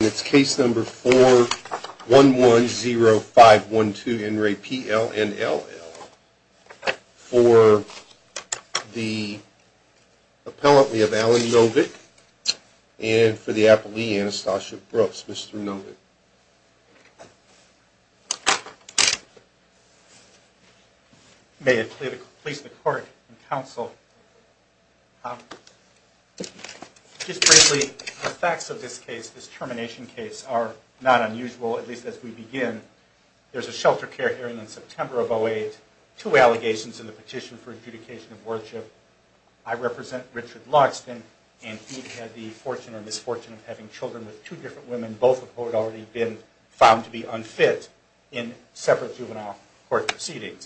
and it's case number 4 1 1 0 5 1 2 n ray p l n l l for the appellant we have allen novick and for the appellee anastasia brooks mr novick may it please the court and counsel um just briefly the facts of this case this termination case are not unusual at least as we begin there's a shelter care hearing in september of 08 two allegations in the petition for adjudication of worship i represent richard loxton and he had the fortune or misfortune of having children with two different women both of who had already been found to be unfit in a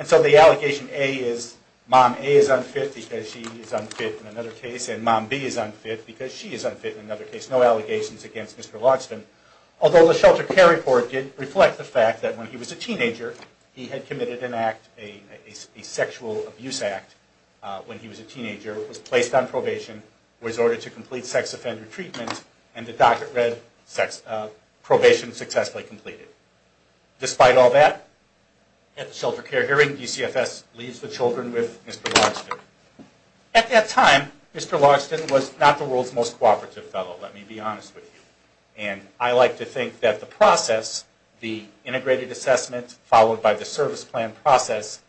is mom a is unfit because she is unfit in another case and mom b is unfit because she is unfit in another case no allegations against mr loxton although the shelter care report did reflect the fact that when he was a teenager he had committed an act a a sexual abuse act when he was a teenager was placed on probation was ordered to complete sex offender treatment and the doctor read sex uh probation successfully completed despite all that at the shelter care hearing dcfs leaves the children with mr loxton at that time mr loxton was not the world's most cooperative fellow let me be honest with you and i like to think that the process the integrated assessment followed by the service plan process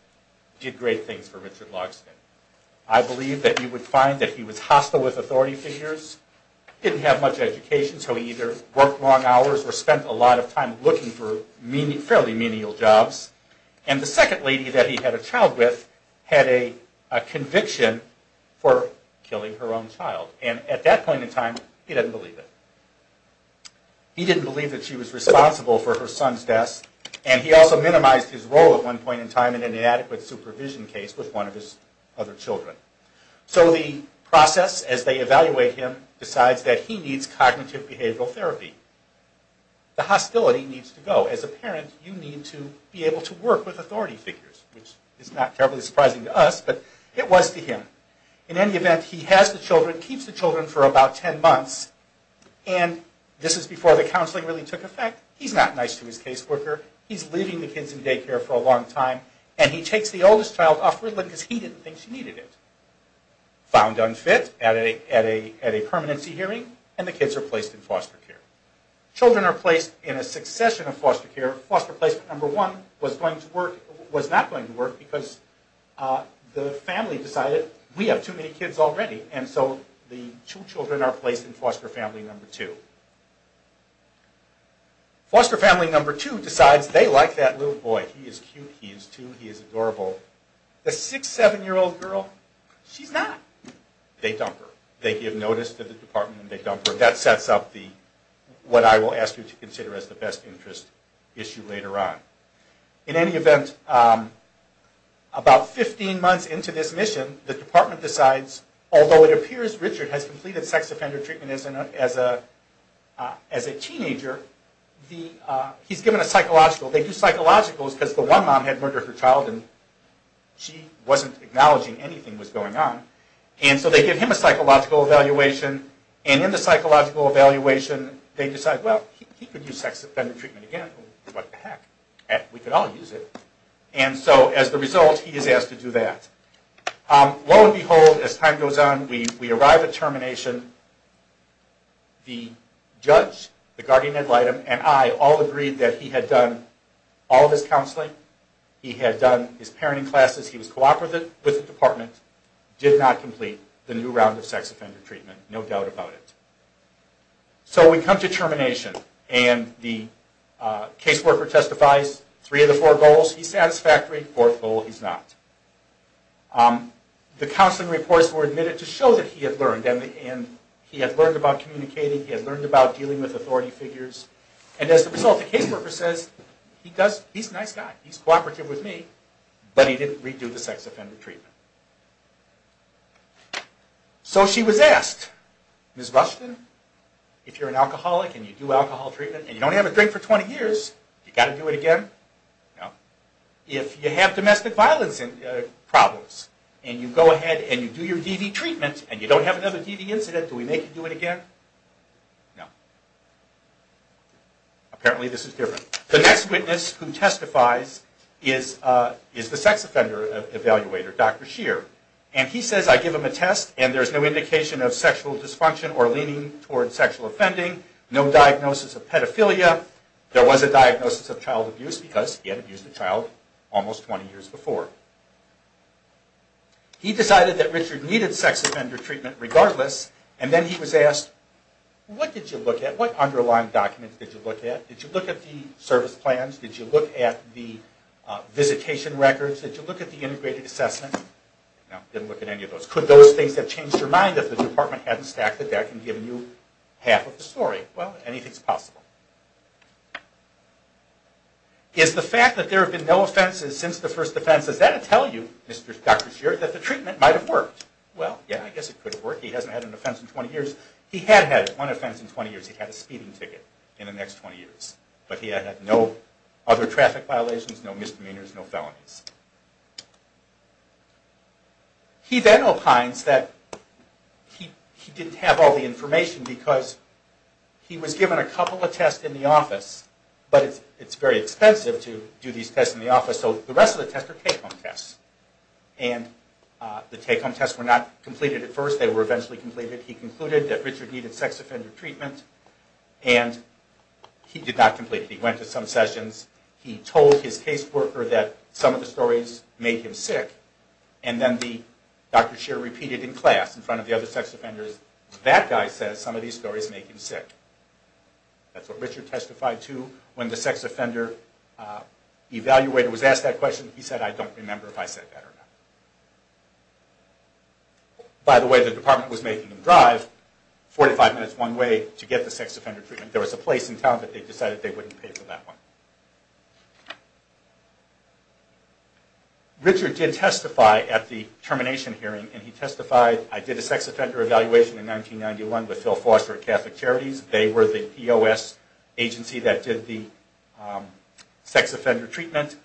did great things for richard loxton i believe that you would find that he was hostile with authority figures didn't have much education so he either worked long hours or spent a lot of time looking for meaning fairly menial jobs and the second lady that he had a child with had a a conviction for killing her own child and at that point in time he didn't believe it he didn't believe that she was responsible for her son's death and he also minimized his role at one point in time in an inadequate supervision case with one of his other children so the process as they evaluate him decides that he needs cognitive behavioral therapy the hostility needs to go as a parent you need to be able to work with authority figures which is not terribly surprising to us but it was to him in any event he has the children keeps the children for about 10 months and this is before the counseling really took effect he's not nice to his caseworker he's leaving the kids in daycare for a long time and he takes the oldest child off riddland because he didn't think she needed it found unfit at a at a permanency hearing and the kids are placed in foster care children are placed in a succession of foster care foster placement number one was going to work was not going to work because the family decided we have too many kids already and so the two children are placed in foster family number two foster family number two decides they like that little boy he is cute he is too he and they dump her that sets up the what i will ask you to consider as the best interest issue later on in any event um about 15 months into this mission the department decides although it appears richard has completed sex offender treatment as a as a teenager the uh he's given a psychological they do psychologicals because the one mom had murdered her child and she wasn't acknowledging anything was going on and so they give him a psychological evaluation and in the psychological evaluation they decide well he could use sex offender treatment again what the heck we could all use it and so as the result he is asked to do that lo and behold as time goes on we we arrive at termination the judge the guardian ad litem and i all agreed that he had done all of his counseling he had done his parenting classes he was cooperative with the department did not complete the new round of sex offender treatment no doubt about it so we come to termination and the uh caseworker testifies three of the four goals he's satisfactory fourth goal he's not um the counseling reports were admitted to show that he had learned and he had learned about communicating he had learned about dealing with authority figures and as a result the caseworker says he does he's a nice guy he's cooperative with me but he didn't redo the sex offender treatment so she was asked miss rushton if you're an alcoholic and you do alcohol treatment and you don't have a drink for 20 years you got to do it again no if you have domestic violence and problems and you go ahead and you do your dv treatment and you don't have another dv incident do we make you do it again no apparently this is different the next witness who testifies is uh is the sex offender evaluator dr sheer and he says i give him a test and there's no indication of sexual dysfunction or leaning toward sexual offending no diagnosis of pedophilia there was a diagnosis of child abuse because he had abused a child almost 20 years before he decided that richard needed sex offender treatment regardless and then he was asked what did you look at what underlying documents did you look at did you look at the plans did you look at the visitation records did you look at the integrated assessment no didn't look at any of those could those things have changed your mind if the department hadn't stacked the deck and given you half of the story well anything's possible is the fact that there have been no offenses since the first defense is that to tell you mr doctor shared that the treatment might have worked well yeah i guess it could work he hasn't had an offense in 20 years he had had one offense in 20 years he had a speeding ticket in the next 20 years but he had no other traffic violations no misdemeanors no felonies he then opines that he he didn't have all the information because he was given a couple of tests in the office but it's it's very expensive to do these tests in the office so the rest of the tests are take-home tests and uh the take-home tests were not completed at first they were eventually completed he concluded that richard needed sex offender treatment and he did not complete he went to some sessions he told his caseworker that some of the stories made him sick and then the doctor shared repeated in class in front of the other sex offenders that guy says some of these stories make him sick that's what richard testified to when the sex offender uh evaluator was asked that question he said i don't remember if i said that or not by the way the department was making him drive 45 minutes one way to get the sex offender treatment there was a place in town but they decided they wouldn't pay for that one richard did testify at the termination hearing and he testified i did a sex offender evaluation in 1991 with phil foster catholic charities they were the pos agency that did the sex offender treatment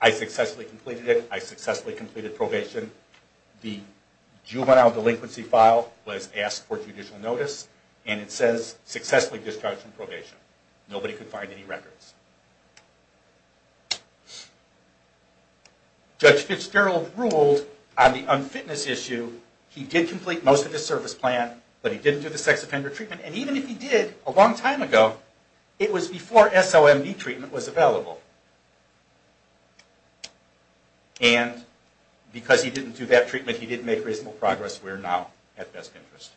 i successfully completed it i successfully completed probation the juvenile delinquency file was asked for judicial notice and it says successfully discharged from probation nobody could find any records judge fitzgerald ruled on the unfitness issue he did complete most of his service plan but he didn't do the sex offender treatment and even if he did a long time ago it was before somv treatment was available and because he didn't do that treatment he didn't make reasonable progress we're now at best interest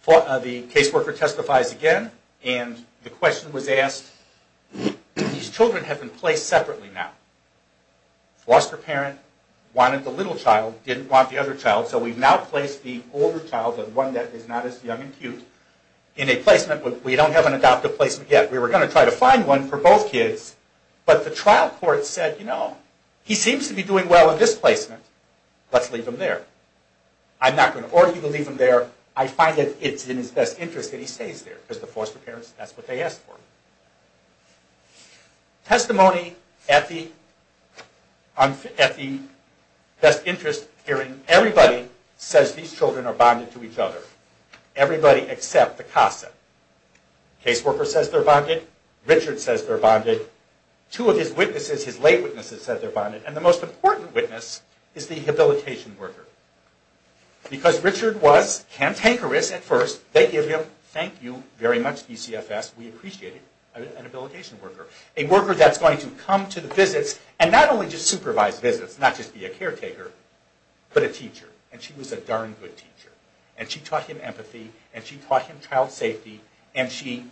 for the case worker testifies again and the question was asked these children have been placed separately now foster parent wanted the little child didn't want the other child so we've now placed the older child of one that is not as young and we don't have an adoptive placement yet we were going to try to find one for both kids but the trial court said you know he seems to be doing well in this placement let's leave him there i'm not going to order you to leave him there i find that it's in his best interest that he stays there because the foster parents that's what they asked for testimony at the at the best interest hearing everybody says these children are bonded to each other everybody except the casa case worker says they're bonded richard says they're bonded two of his witnesses his late witnesses said they're bonded and the most important witness is the habilitation worker because richard was cantankerous at first they give him thank you very much dcfs we appreciated an habilitation worker a worker that's going to come to the visits and not only just supervise visits not just be a caretaker but a teacher and she was a darn good teacher and she taught him empathy and she taught him child safety and she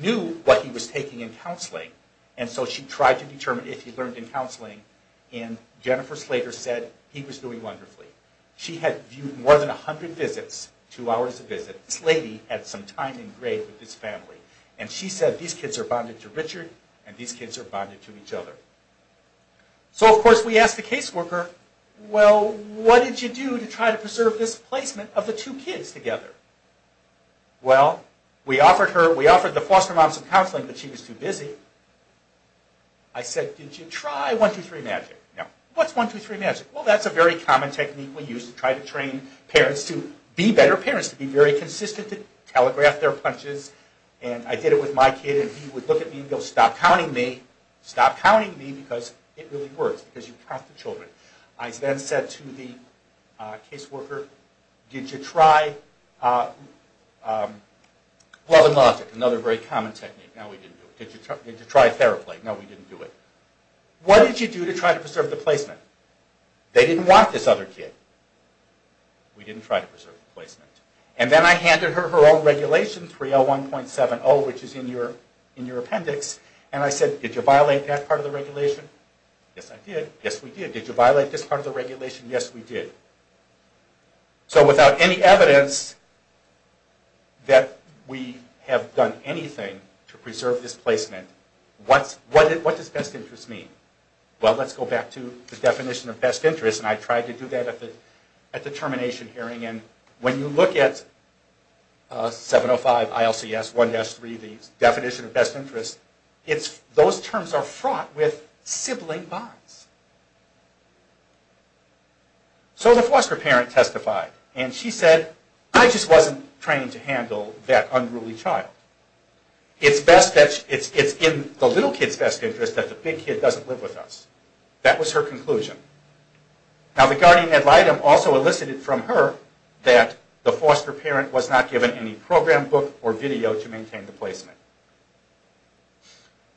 knew what he was taking in counseling and so she tried to determine if he learned in counseling and jennifer slater said he was doing wonderfully she had viewed more than a hundred visits two hours a visit this lady had some time in grade with this family and she said these kids are bonded to richard and these kids are bonded to each other so of course we asked the case worker well what did you do to try to preserve this kids together well we offered her we offered the foster moms of counseling but she was too busy i said did you try one two three magic no what's one two three magic well that's a very common technique we use to try to train parents to be better parents to be very consistent to telegraph their punches and i did it with my kid and he would look at me and go stop counting me stop counting me because it really works because you count the children i then said to the case worker did you try uh um love and logic another very common technique now we didn't do it did you try did you try theraplay no we didn't do it what did you do to try to preserve the placement they didn't want this other kid we didn't try to preserve the placement and then i handed her her own regulation 301.70 which is in your in your appendix and i said did you violate that part of the regulation yes i did yes we did did you violate this part of the regulation yes we did so without any evidence that we have done anything to preserve this placement what's what what does best interest mean well let's go back to the definition of best interest and i tried to do that at the at the termination hearing and when you look at 705 ilcs 1-3 the definition of best interest it's those terms are fraught with sibling bonds so the foster parent testified and she said i just wasn't trained to handle that unruly child it's best that it's it's in the little kid's best interest that the big kid doesn't live with us that was her conclusion now the guardian ad litem also elicited from her that the foster parent was not given any program book or video to maintain the placement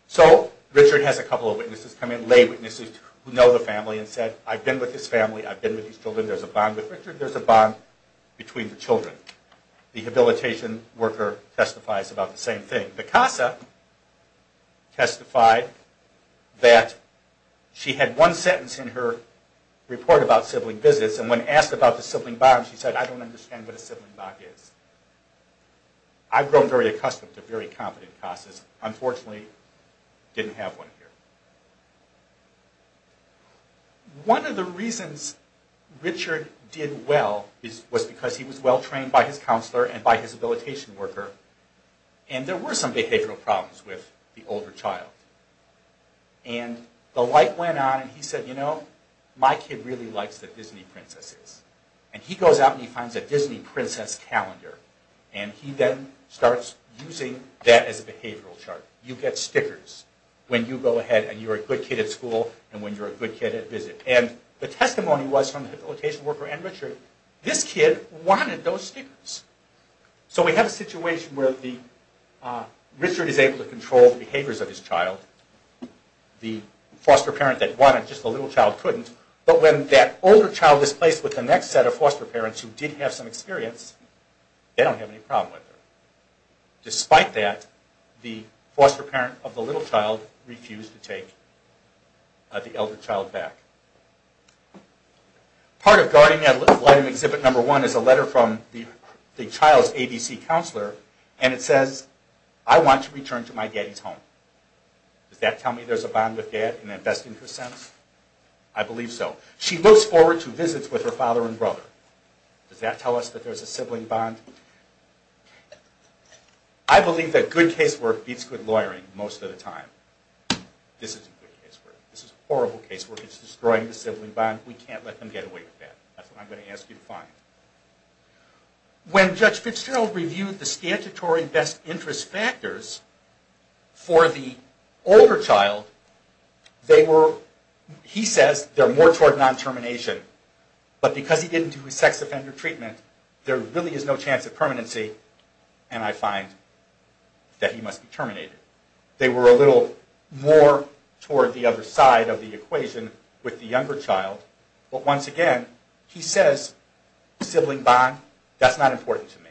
so richard has a couple of witnesses come in lay witnesses who know the family and said i've been with his family i've been with these children there's a bond with richard there's a bond between the children the habilitation worker testifies about the same thing the casa testified that she had one sentence in her report about sibling visits and when asked about the sibling bond she said i don't understand what a sibling bond is i've grown very accustomed to very competent casas unfortunately didn't have one here one of the reasons richard did well is was because he was well trained by his counselor and by his habilitation worker and there were some behavioral problems with the older child and the light went on and he said you know my kid really likes the disney princesses and he goes out and he finds a disney princess calendar and he then starts using that as a behavioral chart you get stickers when you go ahead and you're a good kid at school and when you're a good kid at visit and the testimony was from the habilitation worker and richard this kid wanted those stickers so we have a situation where the uh richard is able to control the behaviors of his child the foster parent that wanted just a little child couldn't but when that older child was placed with the next set of foster parents who did have some experience they don't have any problem with her despite that the foster parent of the little child refused to take the elder child back part of guarding that little flight of exhibit number one is a letter from the the child's abc counselor and it says i want to return to my daddy's home does that tell me there's a bond with dad in that best interest sense i believe so she looks forward to visits with her father and brother does that tell us that there's a sibling bond i believe that good case work beats good lawyering most of the time this isn't good case work this is horrible case work it's destroying the sibling bond we can't let them get away with that that's what i'm going to ask you to find when judge fitzgerald reviewed the statutory best interest factors for the older child they were he says they're more toward non-termination but because he didn't do his sex offender treatment there really is no chance of permanency and i find that he must be terminated they were a little more toward the other side of the equation with the younger child but once again he says sibling bond that's not important to me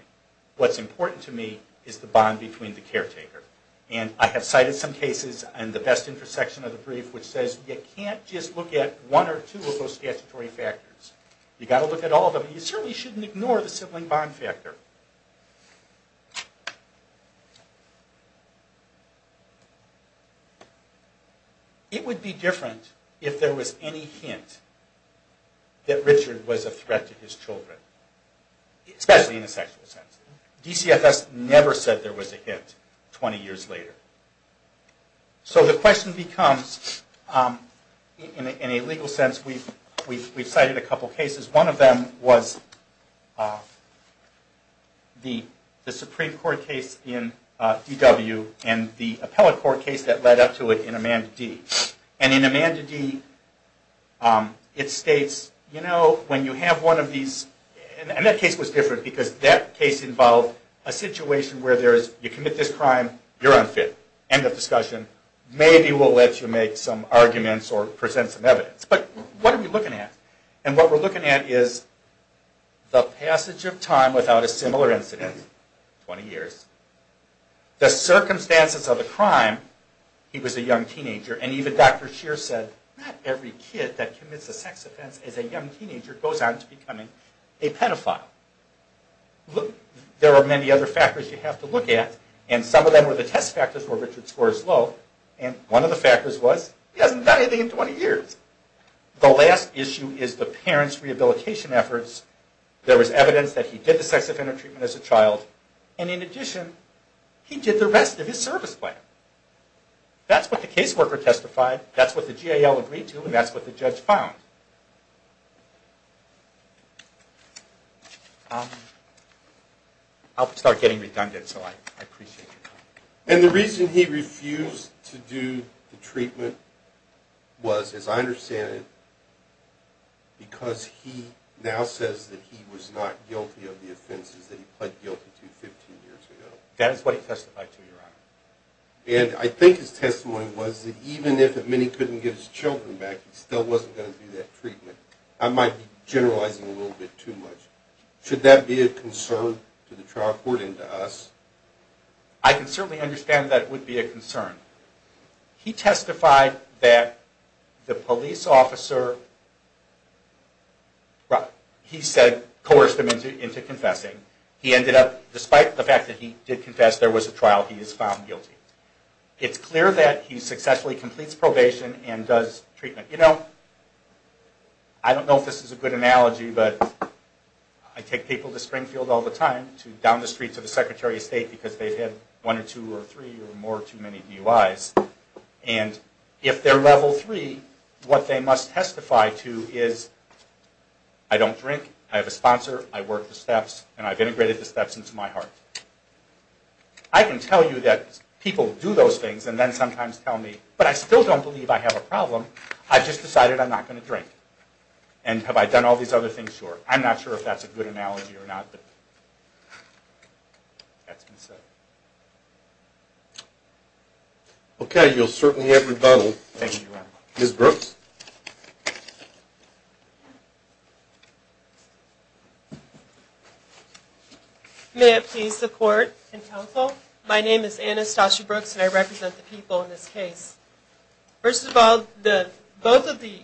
what's important to me is the bond between the caretaker and i have cited some cases and the best intersection of the brief which says you can't just look at one or two of those statutory factors you got to look at all of them you certainly shouldn't ignore the sibling bond factor it would be different if there was any hint that richard was a threat to his children especially in the sexual sense dcfs never said there was a hint 20 years later so the question becomes in a legal sense we've we've cited a couple cases one of them was the the supreme court case in dw and the appellate court case that led up to it in amanda d and in amanda d um it states you know when you have one of these and that case was different because that case involved a situation where there is you commit this crime you're unfit end of discussion maybe we'll let you make some arguments or present some evidence but what are we looking at and what we're looking at is the passage of time without a similar incident 20 years the circumstances of the crime he was a young teenager and even dr sheer said not every kid that commits a sex offense as a young teenager goes on to becoming a pedophile look there are many other factors you have to look at and some of them were the test factors where richard scores low and one of the factors was he hasn't done anything in 20 years the last issue is the parents rehabilitation efforts there was evidence that he did the sex offender treatment as a child and in addition he did the rest of his service plan that's what the caseworker testified that's what the gal agreed to and that's what the judge found um i'll start getting redundant so i appreciate you and the reason he refused to do the treatment was as i understand it now says that he was not guilty of the offenses that he pled guilty to 15 years ago that is what he testified to your honor and i think his testimony was that even if many couldn't get his children back he still wasn't going to do that treatment i might be generalizing a little bit too much should that be a concern to the trial court into us i can certainly understand that a concern he testified that the police officer he said coerced him into into confessing he ended up despite the fact that he did confess there was a trial he is found guilty it's clear that he successfully completes probation and does treatment you know i don't know if this is a good analogy but i take people to springfield all the down the streets of the secretary of state because they've had one or two or three or more too many buis and if they're level three what they must testify to is i don't drink i have a sponsor i work the steps and i've integrated the steps into my heart i can tell you that people do those things and then sometimes tell me but i still don't believe i have a problem i've just decided i'm not going to drink and have i done all these other things sure i'm not sure if that's a good analogy or not but that's been said okay you'll certainly have rebuttal thank you very much miss brooks may it please the court and counsel my name is anastasia brooks and i represent the people in this case first of all the both of the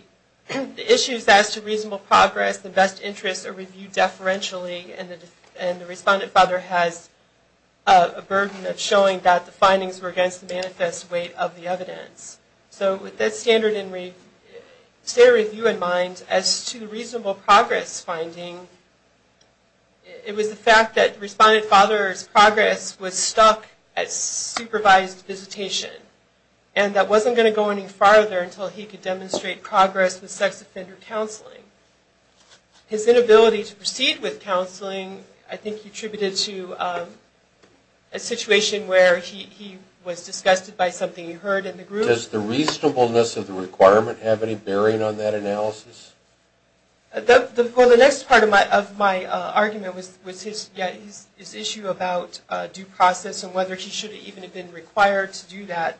issues as to reasonable progress the best interest review deferentially and the and the respondent father has a burden of showing that the findings were against the manifest weight of the evidence so with that standard in review stay review in mind as to reasonable progress finding it was the fact that respondent father's progress was stuck at supervised visitation and that wasn't going to go any farther until he could demonstrate progress with sex offender counseling his inability to proceed with counseling i think he attributed to a situation where he he was disgusted by something he heard in the group does the reasonableness of the requirement have any bearing on that analysis the well the next part of my of my uh argument was was his yeah his issue about uh due process and whether he should even have been required to do that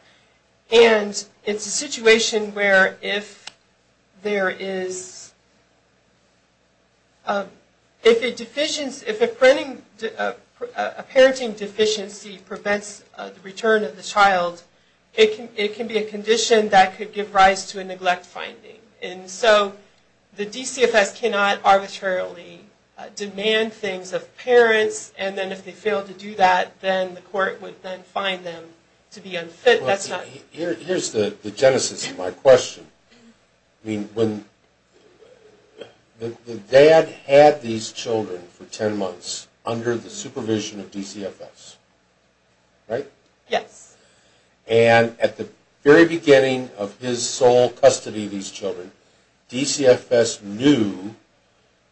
and it's a situation where if there is if a deficient if a printing a parenting deficiency prevents the return of the child it can it can be a condition that could give rise to a neglect finding and so the dcfs cannot arbitrarily demand things of parents and then if they fail to do that then the court would then find them to be unfit that's not here here's the the genesis of my question i mean when the dad had these children for 10 months under the supervision of dcfs right yes and at the very beginning of his sole custody these children dcfs knew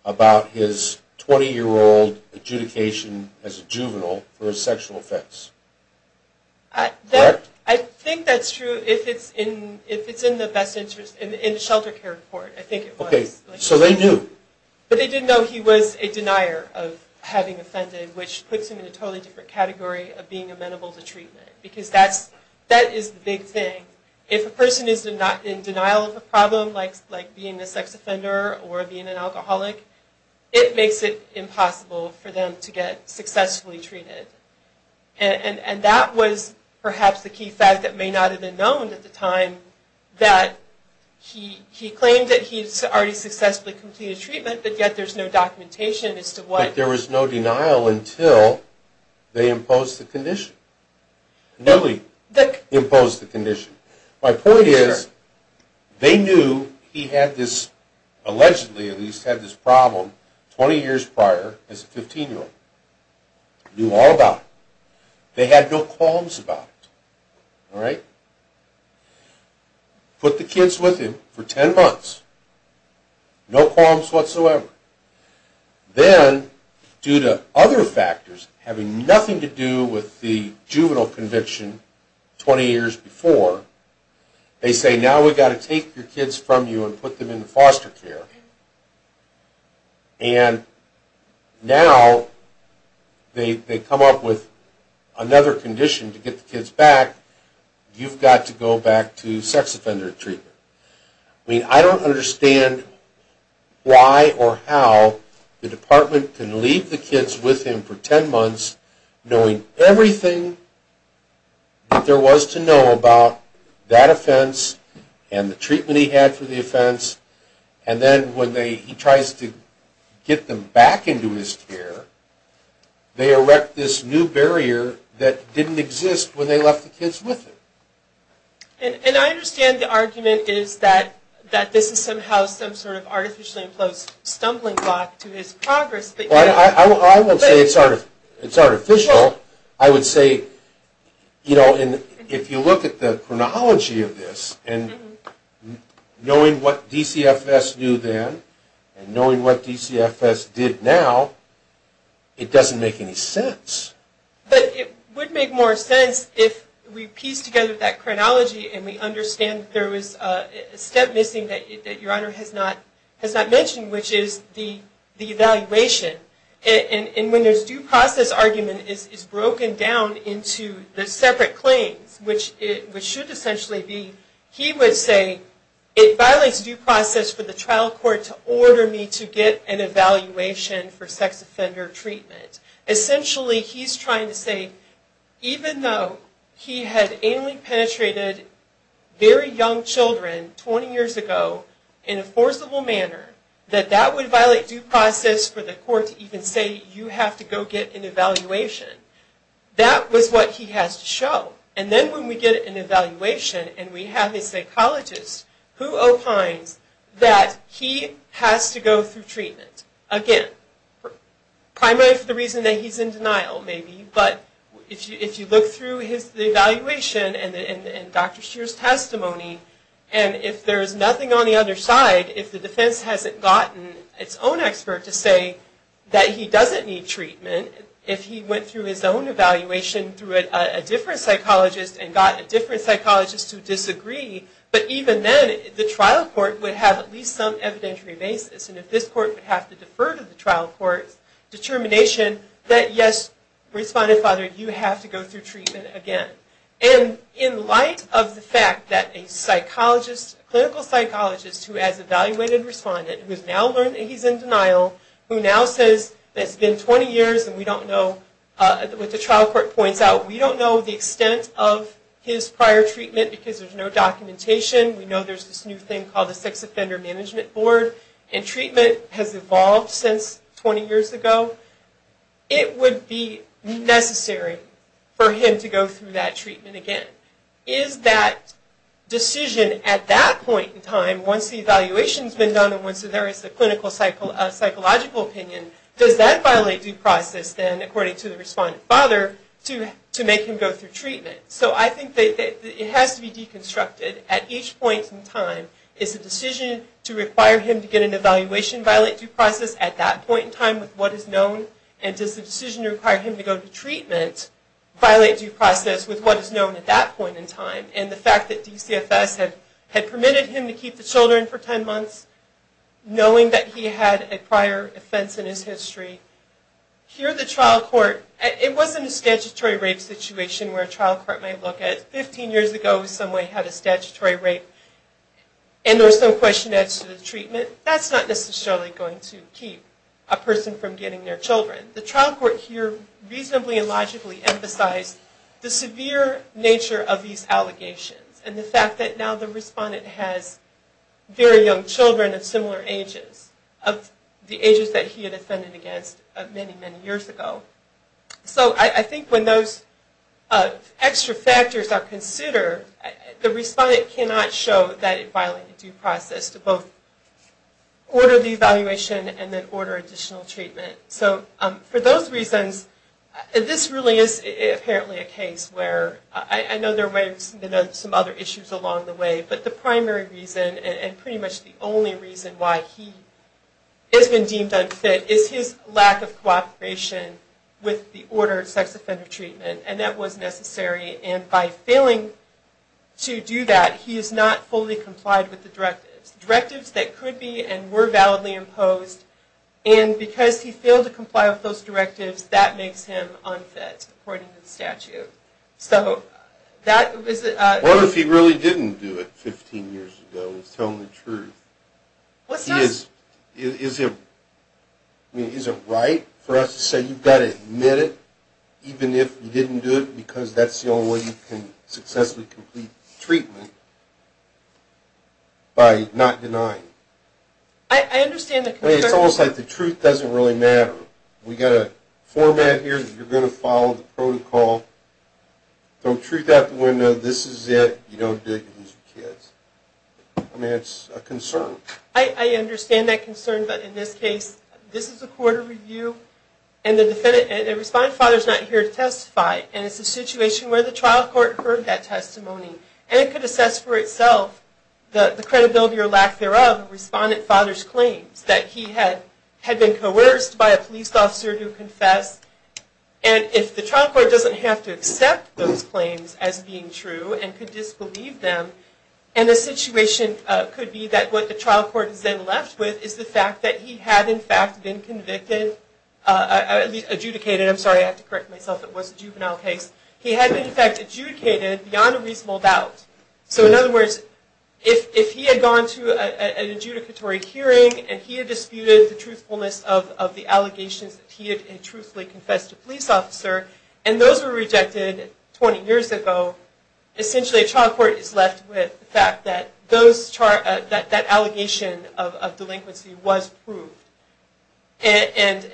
about his 20 year old adjudication as a juvenile for a sexual offense i i think that's true if it's in if it's in the best interest in the shelter care report i think it was okay so they do but they didn't know he was a denier of having offended which puts him in a totally different category of being amenable to treatment because that's that is the big thing if a person is not in denial of a problem like like being a sex offender or being an alcoholic it makes it impossible for them to get successfully treated and and that was perhaps the key fact that may not have been known at the time that he he claimed that he's already successfully completed treatment but yet there's no documentation as to what there was no denial until they imposed the condition newly that imposed the condition my point is they knew he had this allegedly at least had this problem 20 years prior as a 15 year old knew all about they had no qualms about it all right put the kids with him for 10 months no qualms whatsoever then due to other factors having nothing to do with the juvenile conviction 20 years before they say now we got to take your kids from you and put them into foster care and now they they come up with another condition to get the kids back you've got to go back to how the department can leave the kids with him for 10 months knowing everything that there was to know about that offense and the treatment he had for the offense and then when they he tries to get them back into his care they erect this new barrier that didn't exist when they left the kids with him and i understand the argument is that that this is somehow some sort of artificially stumbling block to his progress but i i won't say it's art it's artificial i would say you know and if you look at the chronology of this and knowing what dcfs knew then and knowing what dcfs did now it doesn't make any sense but it would make more sense if we piece together that mentioned which is the the evaluation and when there's due process argument is broken down into the separate claims which it should essentially be he would say it violates due process for the trial court to order me to get an evaluation for sex offender treatment essentially he's trying to that that would violate due process for the court to even say you have to go get an evaluation that was what he has to show and then when we get an evaluation and we have a psychologist who opines that he has to go through treatment again primarily for the reason that he's in denial maybe but if you if you look through his evaluation and and dr shearer's testimony and if there's nothing on the other side if the defense hasn't gotten its own expert to say that he doesn't need treatment if he went through his own evaluation through a different psychologist and got a different psychologist to disagree but even then the trial court would have at least some evidentiary basis and if this court would have to defer to the trial court determination that yes respondent father you have to go through treatment again and in light of the fact that a psychologist clinical psychologist who has evaluated respondent who's now learned that he's in denial who now says it's been 20 years and we don't know uh what the trial court points out we don't know the extent of his prior treatment because there's no documentation we know there's this new thing called the sex offender management board and treatment has evolved since 20 years ago it would be necessary for him to go through that treatment again is that decision at that point in time once the evaluation has been done and once there is the clinical cycle a psychological opinion does that violate due process then according to the respondent father to to make him go through treatment so i think that it has to be deconstructed at each point in time is the decision to require him to get an evaluation violate due process at that point in time with what is known and does the decision require him to go to treatment violate due process with what is known at that point in time and the fact that dcfs had had permitted him to keep the children for 10 months knowing that he had a prior offense in his history here the trial court it wasn't a statutory rape situation where a trial court might look at 15 years ago someone had a statutory rape and there was no question as to the treatment that's not necessarily going to keep a person from getting their children the trial court here reasonably and logically emphasized the severe nature of these allegations and the fact that now the respondent has very young children of similar ages of the ages that he had offended against many many years ago so i i think when those uh extra factors are considered the respondent cannot show that it violated due process to both order the evaluation and then order additional treatment so for those reasons this really is apparently a case where i know there were some other issues along the way but the primary reason and pretty much the only reason why he has been deemed unfit is his lack of cooperation with the ordered sex offender treatment and that was necessary and by failing to do that he is not fully complied with the directives directives that could be and were validly imposed and because he failed to comply with those directives that makes him unfit according to the statute so that was uh what if he really didn't do it 15 years ago he's telling the truth what's this is it i mean is it right for us to say you've got to admit it even if you didn't do it because that's the only way you can successfully complete treatment by not denying i understand it's almost like the truth doesn't really matter we got a format here that you're going to follow the protocol don't treat that window this is it you don't dig these kids i mean it's a concern i i understand that concern but in this case this is a court of review and the defendant and the respondent father is not here to testify and it's a situation where the trial court heard that testimony and it could assess for itself the the credibility or lack thereof respondent father's claims that he had had been coerced by a police officer to confess and if the trial court doesn't have to accept those claims as being true and could disbelieve them and the situation uh could be that what the trial court is then left with is the fact that he had in fact been convicted uh at least adjudicated i'm sorry i have to correct myself it was a juvenile case he had been in fact adjudicated beyond a reasonable doubt so in other words if if he had gone to an adjudicatory hearing and he had disputed the truthfulness of of the allegations that he had truthfully confessed a police officer and those were rejected 20 years ago essentially a trial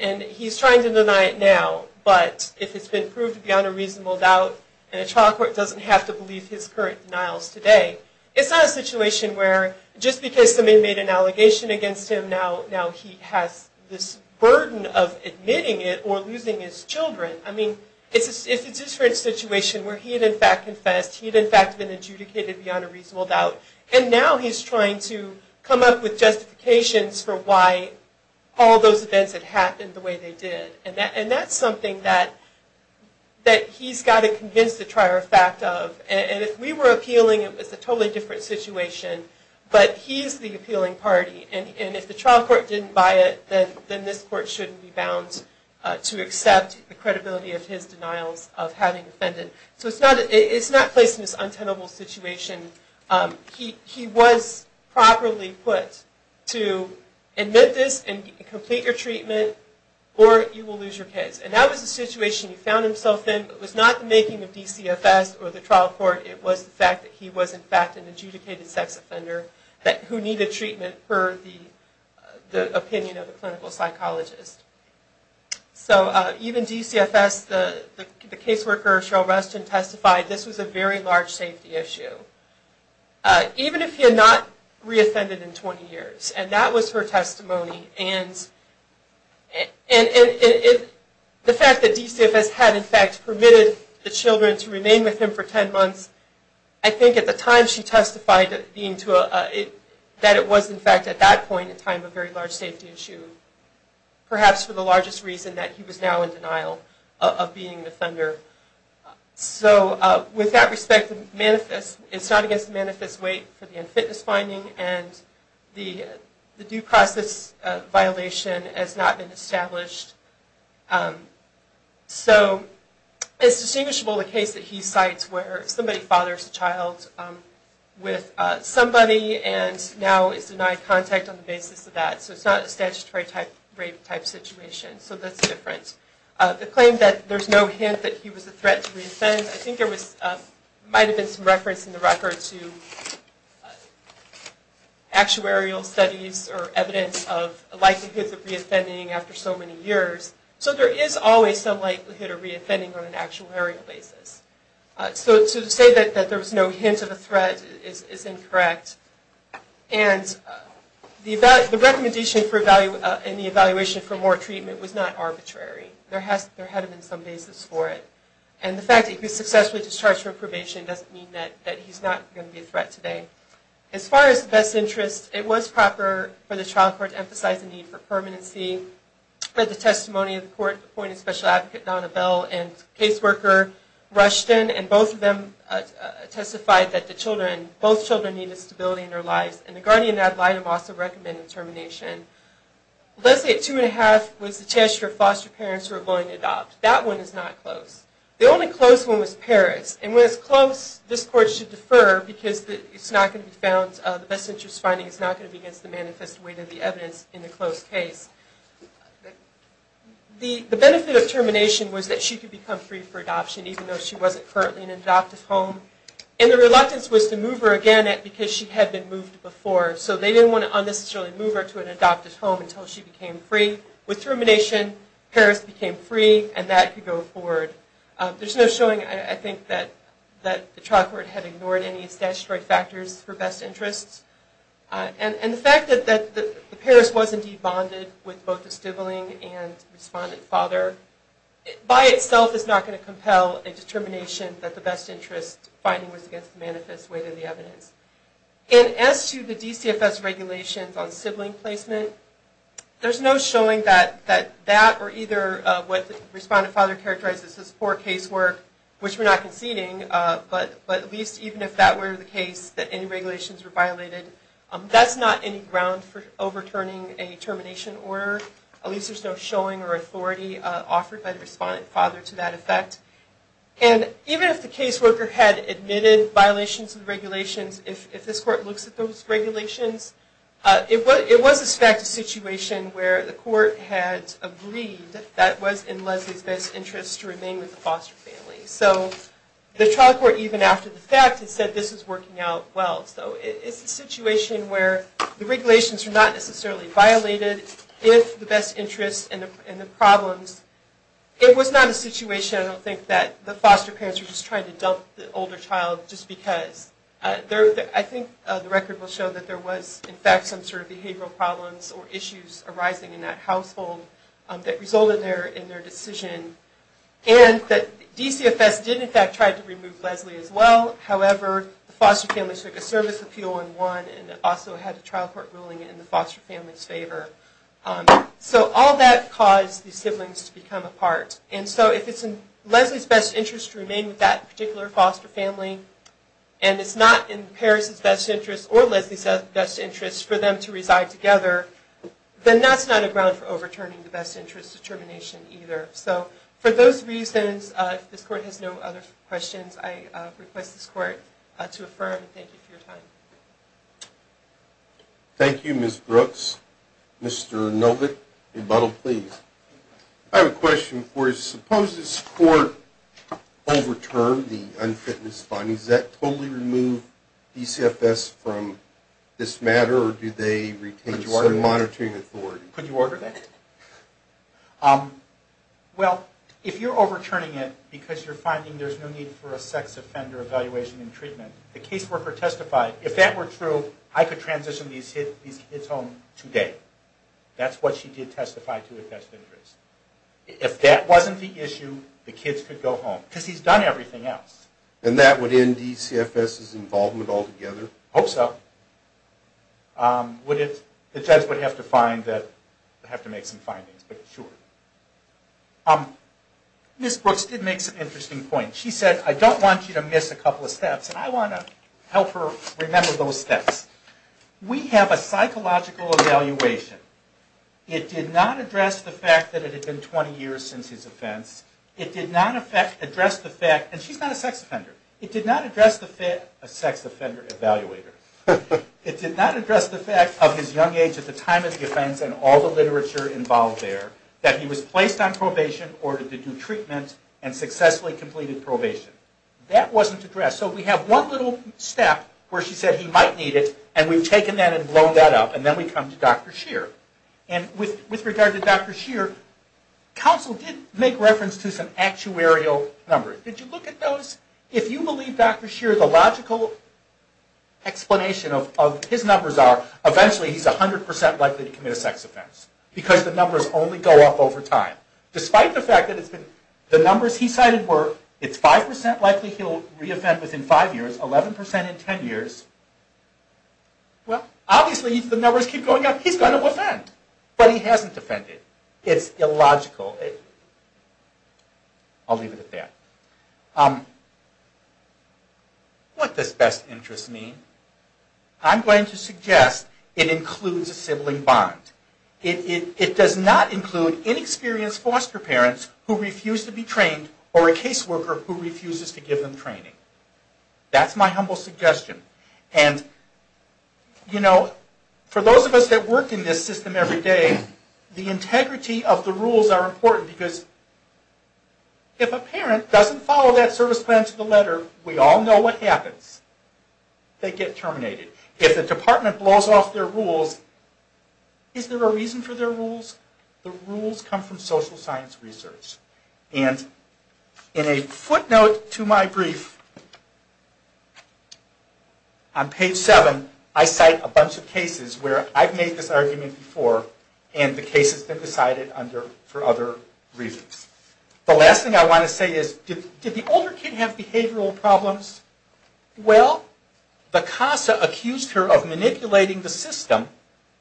and he's trying to deny it now but if it's been proved beyond a reasonable doubt and a trial court doesn't have to believe his current denials today it's not a situation where just because somebody made an allegation against him now now he has this burden of admitting it or losing his children i mean it's it's a different situation where he had in fact confessed he had in fact been adjudicated beyond a reasonable doubt and now he's trying to come up with justifications for why all those events had happened the way they did and that and that's something that that he's got to convince the trier fact of and if we were appealing it was a totally different situation but he's the appealing party and and if the trial court didn't buy it then then this court shouldn't be bound to accept the credibility of his denials of having offended so it's not it's not placed in this untenable situation he he was properly put to admit this and complete your treatment or you will lose your kids and that was the situation he found himself in but was not the making of dcfs or the trial court it was the fact that he was in fact an adjudicated sex offender that who needed treatment for the the opinion of the clinical psychologist so uh even dcfs the the caseworker shall rest and testify this was a very large safety issue uh even if he had not reoffended in 20 years and that was her testimony and and and it the fact that dcfs had in fact permitted the children to remain with him for 10 months i think at the time she testified being to that it was in fact at that point in time a very large safety issue perhaps for the largest reason that he was now in denial of being an offender so uh with that respect manifest it's not against the manifest weight for the unfitness finding and the the due process violation has not been established um so it's distinguishable the case that he cites where somebody fathers a child um with uh somebody and now is denied contact on the basis of that so it's not a statutory type situation so that's different uh the claim that there's no hint that he was a threat to reoffend i think there was uh might have been some reference in the record to actuarial studies or evidence of likelihood of reoffending after so many years so there is always some likelihood of reoffending on an actuarial basis uh so to say that that there was no hint of a threat is is incorrect and the the recommendation for value uh in the evaluation for more treatment was not arbitrary there has there had been some basis for it and the fact that he was successfully discharged from probation doesn't mean that that he's not going to be a threat today as far as the best interest it was proper for the trial court to emphasize the need for permanency but the testimony of the court appointed special advocate donna bell and case both children need the stability in their lives and the guardian ad litem also recommended termination let's say two and a half was the chance for foster parents who are willing to adopt that one is not close the only close one was paris and when it's close this court should defer because it's not going to be found the best interest finding is not going to be against the manifest weight of the evidence in the close case the the benefit of termination was that she could become free for adoption even though she wasn't currently in an adoptive home and the reluctance was to move her again because she had been moved before so they didn't want to unnecessarily move her to an adopted home until she became free with termination paris became free and that could go forward there's no showing i think that that the trial court had ignored any statutory factors for best interests and and the fact that that the paris was indeed bonded with both the sibling and respondent father by itself is not going to compel a determination that the interest finding was against the manifest weight of the evidence and as to the dcfs regulations on sibling placement there's no showing that that that or either uh what the respondent father characterizes as poor casework which we're not conceding uh but but at least even if that were the case that any regulations were violated that's not any ground for overturning a termination order at least there's no showing or authority uh offered by the respondent father to that effect and even if the caseworker had admitted violations of regulations if if this court looks at those regulations uh it was it was a fact a situation where the court had agreed that was in leslie's best interest to remain with the foster family so the trial court even after the fact had said this was working out well so it's a situation where the regulations are not necessarily violated if the best interest and the problems it was not a situation i don't think that the foster parents were just trying to dump the older child just because i think the record will show that there was in fact some sort of behavioral problems or issues arising in that household that resulted there in their decision and that dcfs did in fact try to remove leslie as well however the foster family took a service appeal and won and also had a trial court ruling in the foster family's favor um so all that caused these siblings to become apart and so if it's in leslie's best interest to remain with that particular foster family and it's not in paris's best interest or leslie's best interest for them to reside together then that's not a ground for overturning the best interest determination either so for those reasons uh this court has no other questions i uh request this court uh to affirm and thank you for your time thank you miss brooks mr novick rebuttal please i have a question for you suppose this court overturned the unfitness findings that totally remove dcfs from this matter or do they retain certain monitoring authority could you order that um well if you're overturning it because you're finding there's no need for a sex offender evaluation and treatment the caseworker testified if that were true i could transition these hit these kids home today that's what she did testify to the best interest if that wasn't the issue the kids could go home because he's done everything else and that would end dcfs's involvement altogether hope so um would it the judge would have to find that i have to make some findings but sure um miss brooks did make some interesting points she said i don't want you to miss a couple of steps and i want to help her remember those steps we have a psychological evaluation it did not address the fact that it had been 20 years since his offense it did not affect address the fact and she's not a sex offender it did not address the fit a sex offender evaluator it did not address the fact of his young age at the time of the offense and all the literature involved there that he was placed on probation ordered to do treatment and successfully completed probation that wasn't addressed so we have one little step where she said he might need it and we've taken that and blown that up and then we come to dr sheer and with with regard to dr sheer counsel did make reference to some actuarial numbers did you look at those if you believe dr sheer the logical explanation of of his numbers are eventually he's 100 likely to commit a sex offense because the numbers only go up over time despite the fact that it's been the numbers he decided were it's five percent likely he'll reoffend within five years eleven percent in ten years well obviously the numbers keep going up he's going to offend but he hasn't offended it's illogical i'll leave it at that um what does best interest mean i'm going to suggest it includes a sibling bond it it does not include inexperienced foster parents who refuse to be trained or a case worker who refuses to give them training that's my humble suggestion and you know for those of us that work in this system every day the integrity of the rules are important because if a parent doesn't follow that service plan to the letter we all know what happens they get terminated if the department blows off their rules is there a reason for their rules the rules come from social science research and in a footnote to my brief on page seven i cite a bunch of cases where i've made this argument before and the case has been decided under for other reasons the last thing i want to say is did the older kid have behavioral problems well the casa accused her of manipulating the system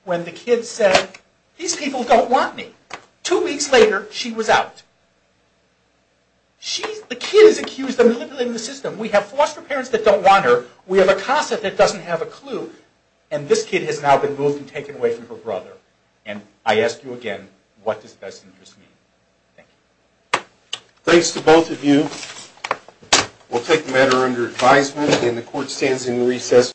when the kid said these people don't want me two weeks later she was out she the kid is accused of manipulating the system we have foster parents that don't want her we have a casa that doesn't have a clue and this kid has now been moved and taken away from her brother and i ask you again what does matter under advisement and the court stands in recess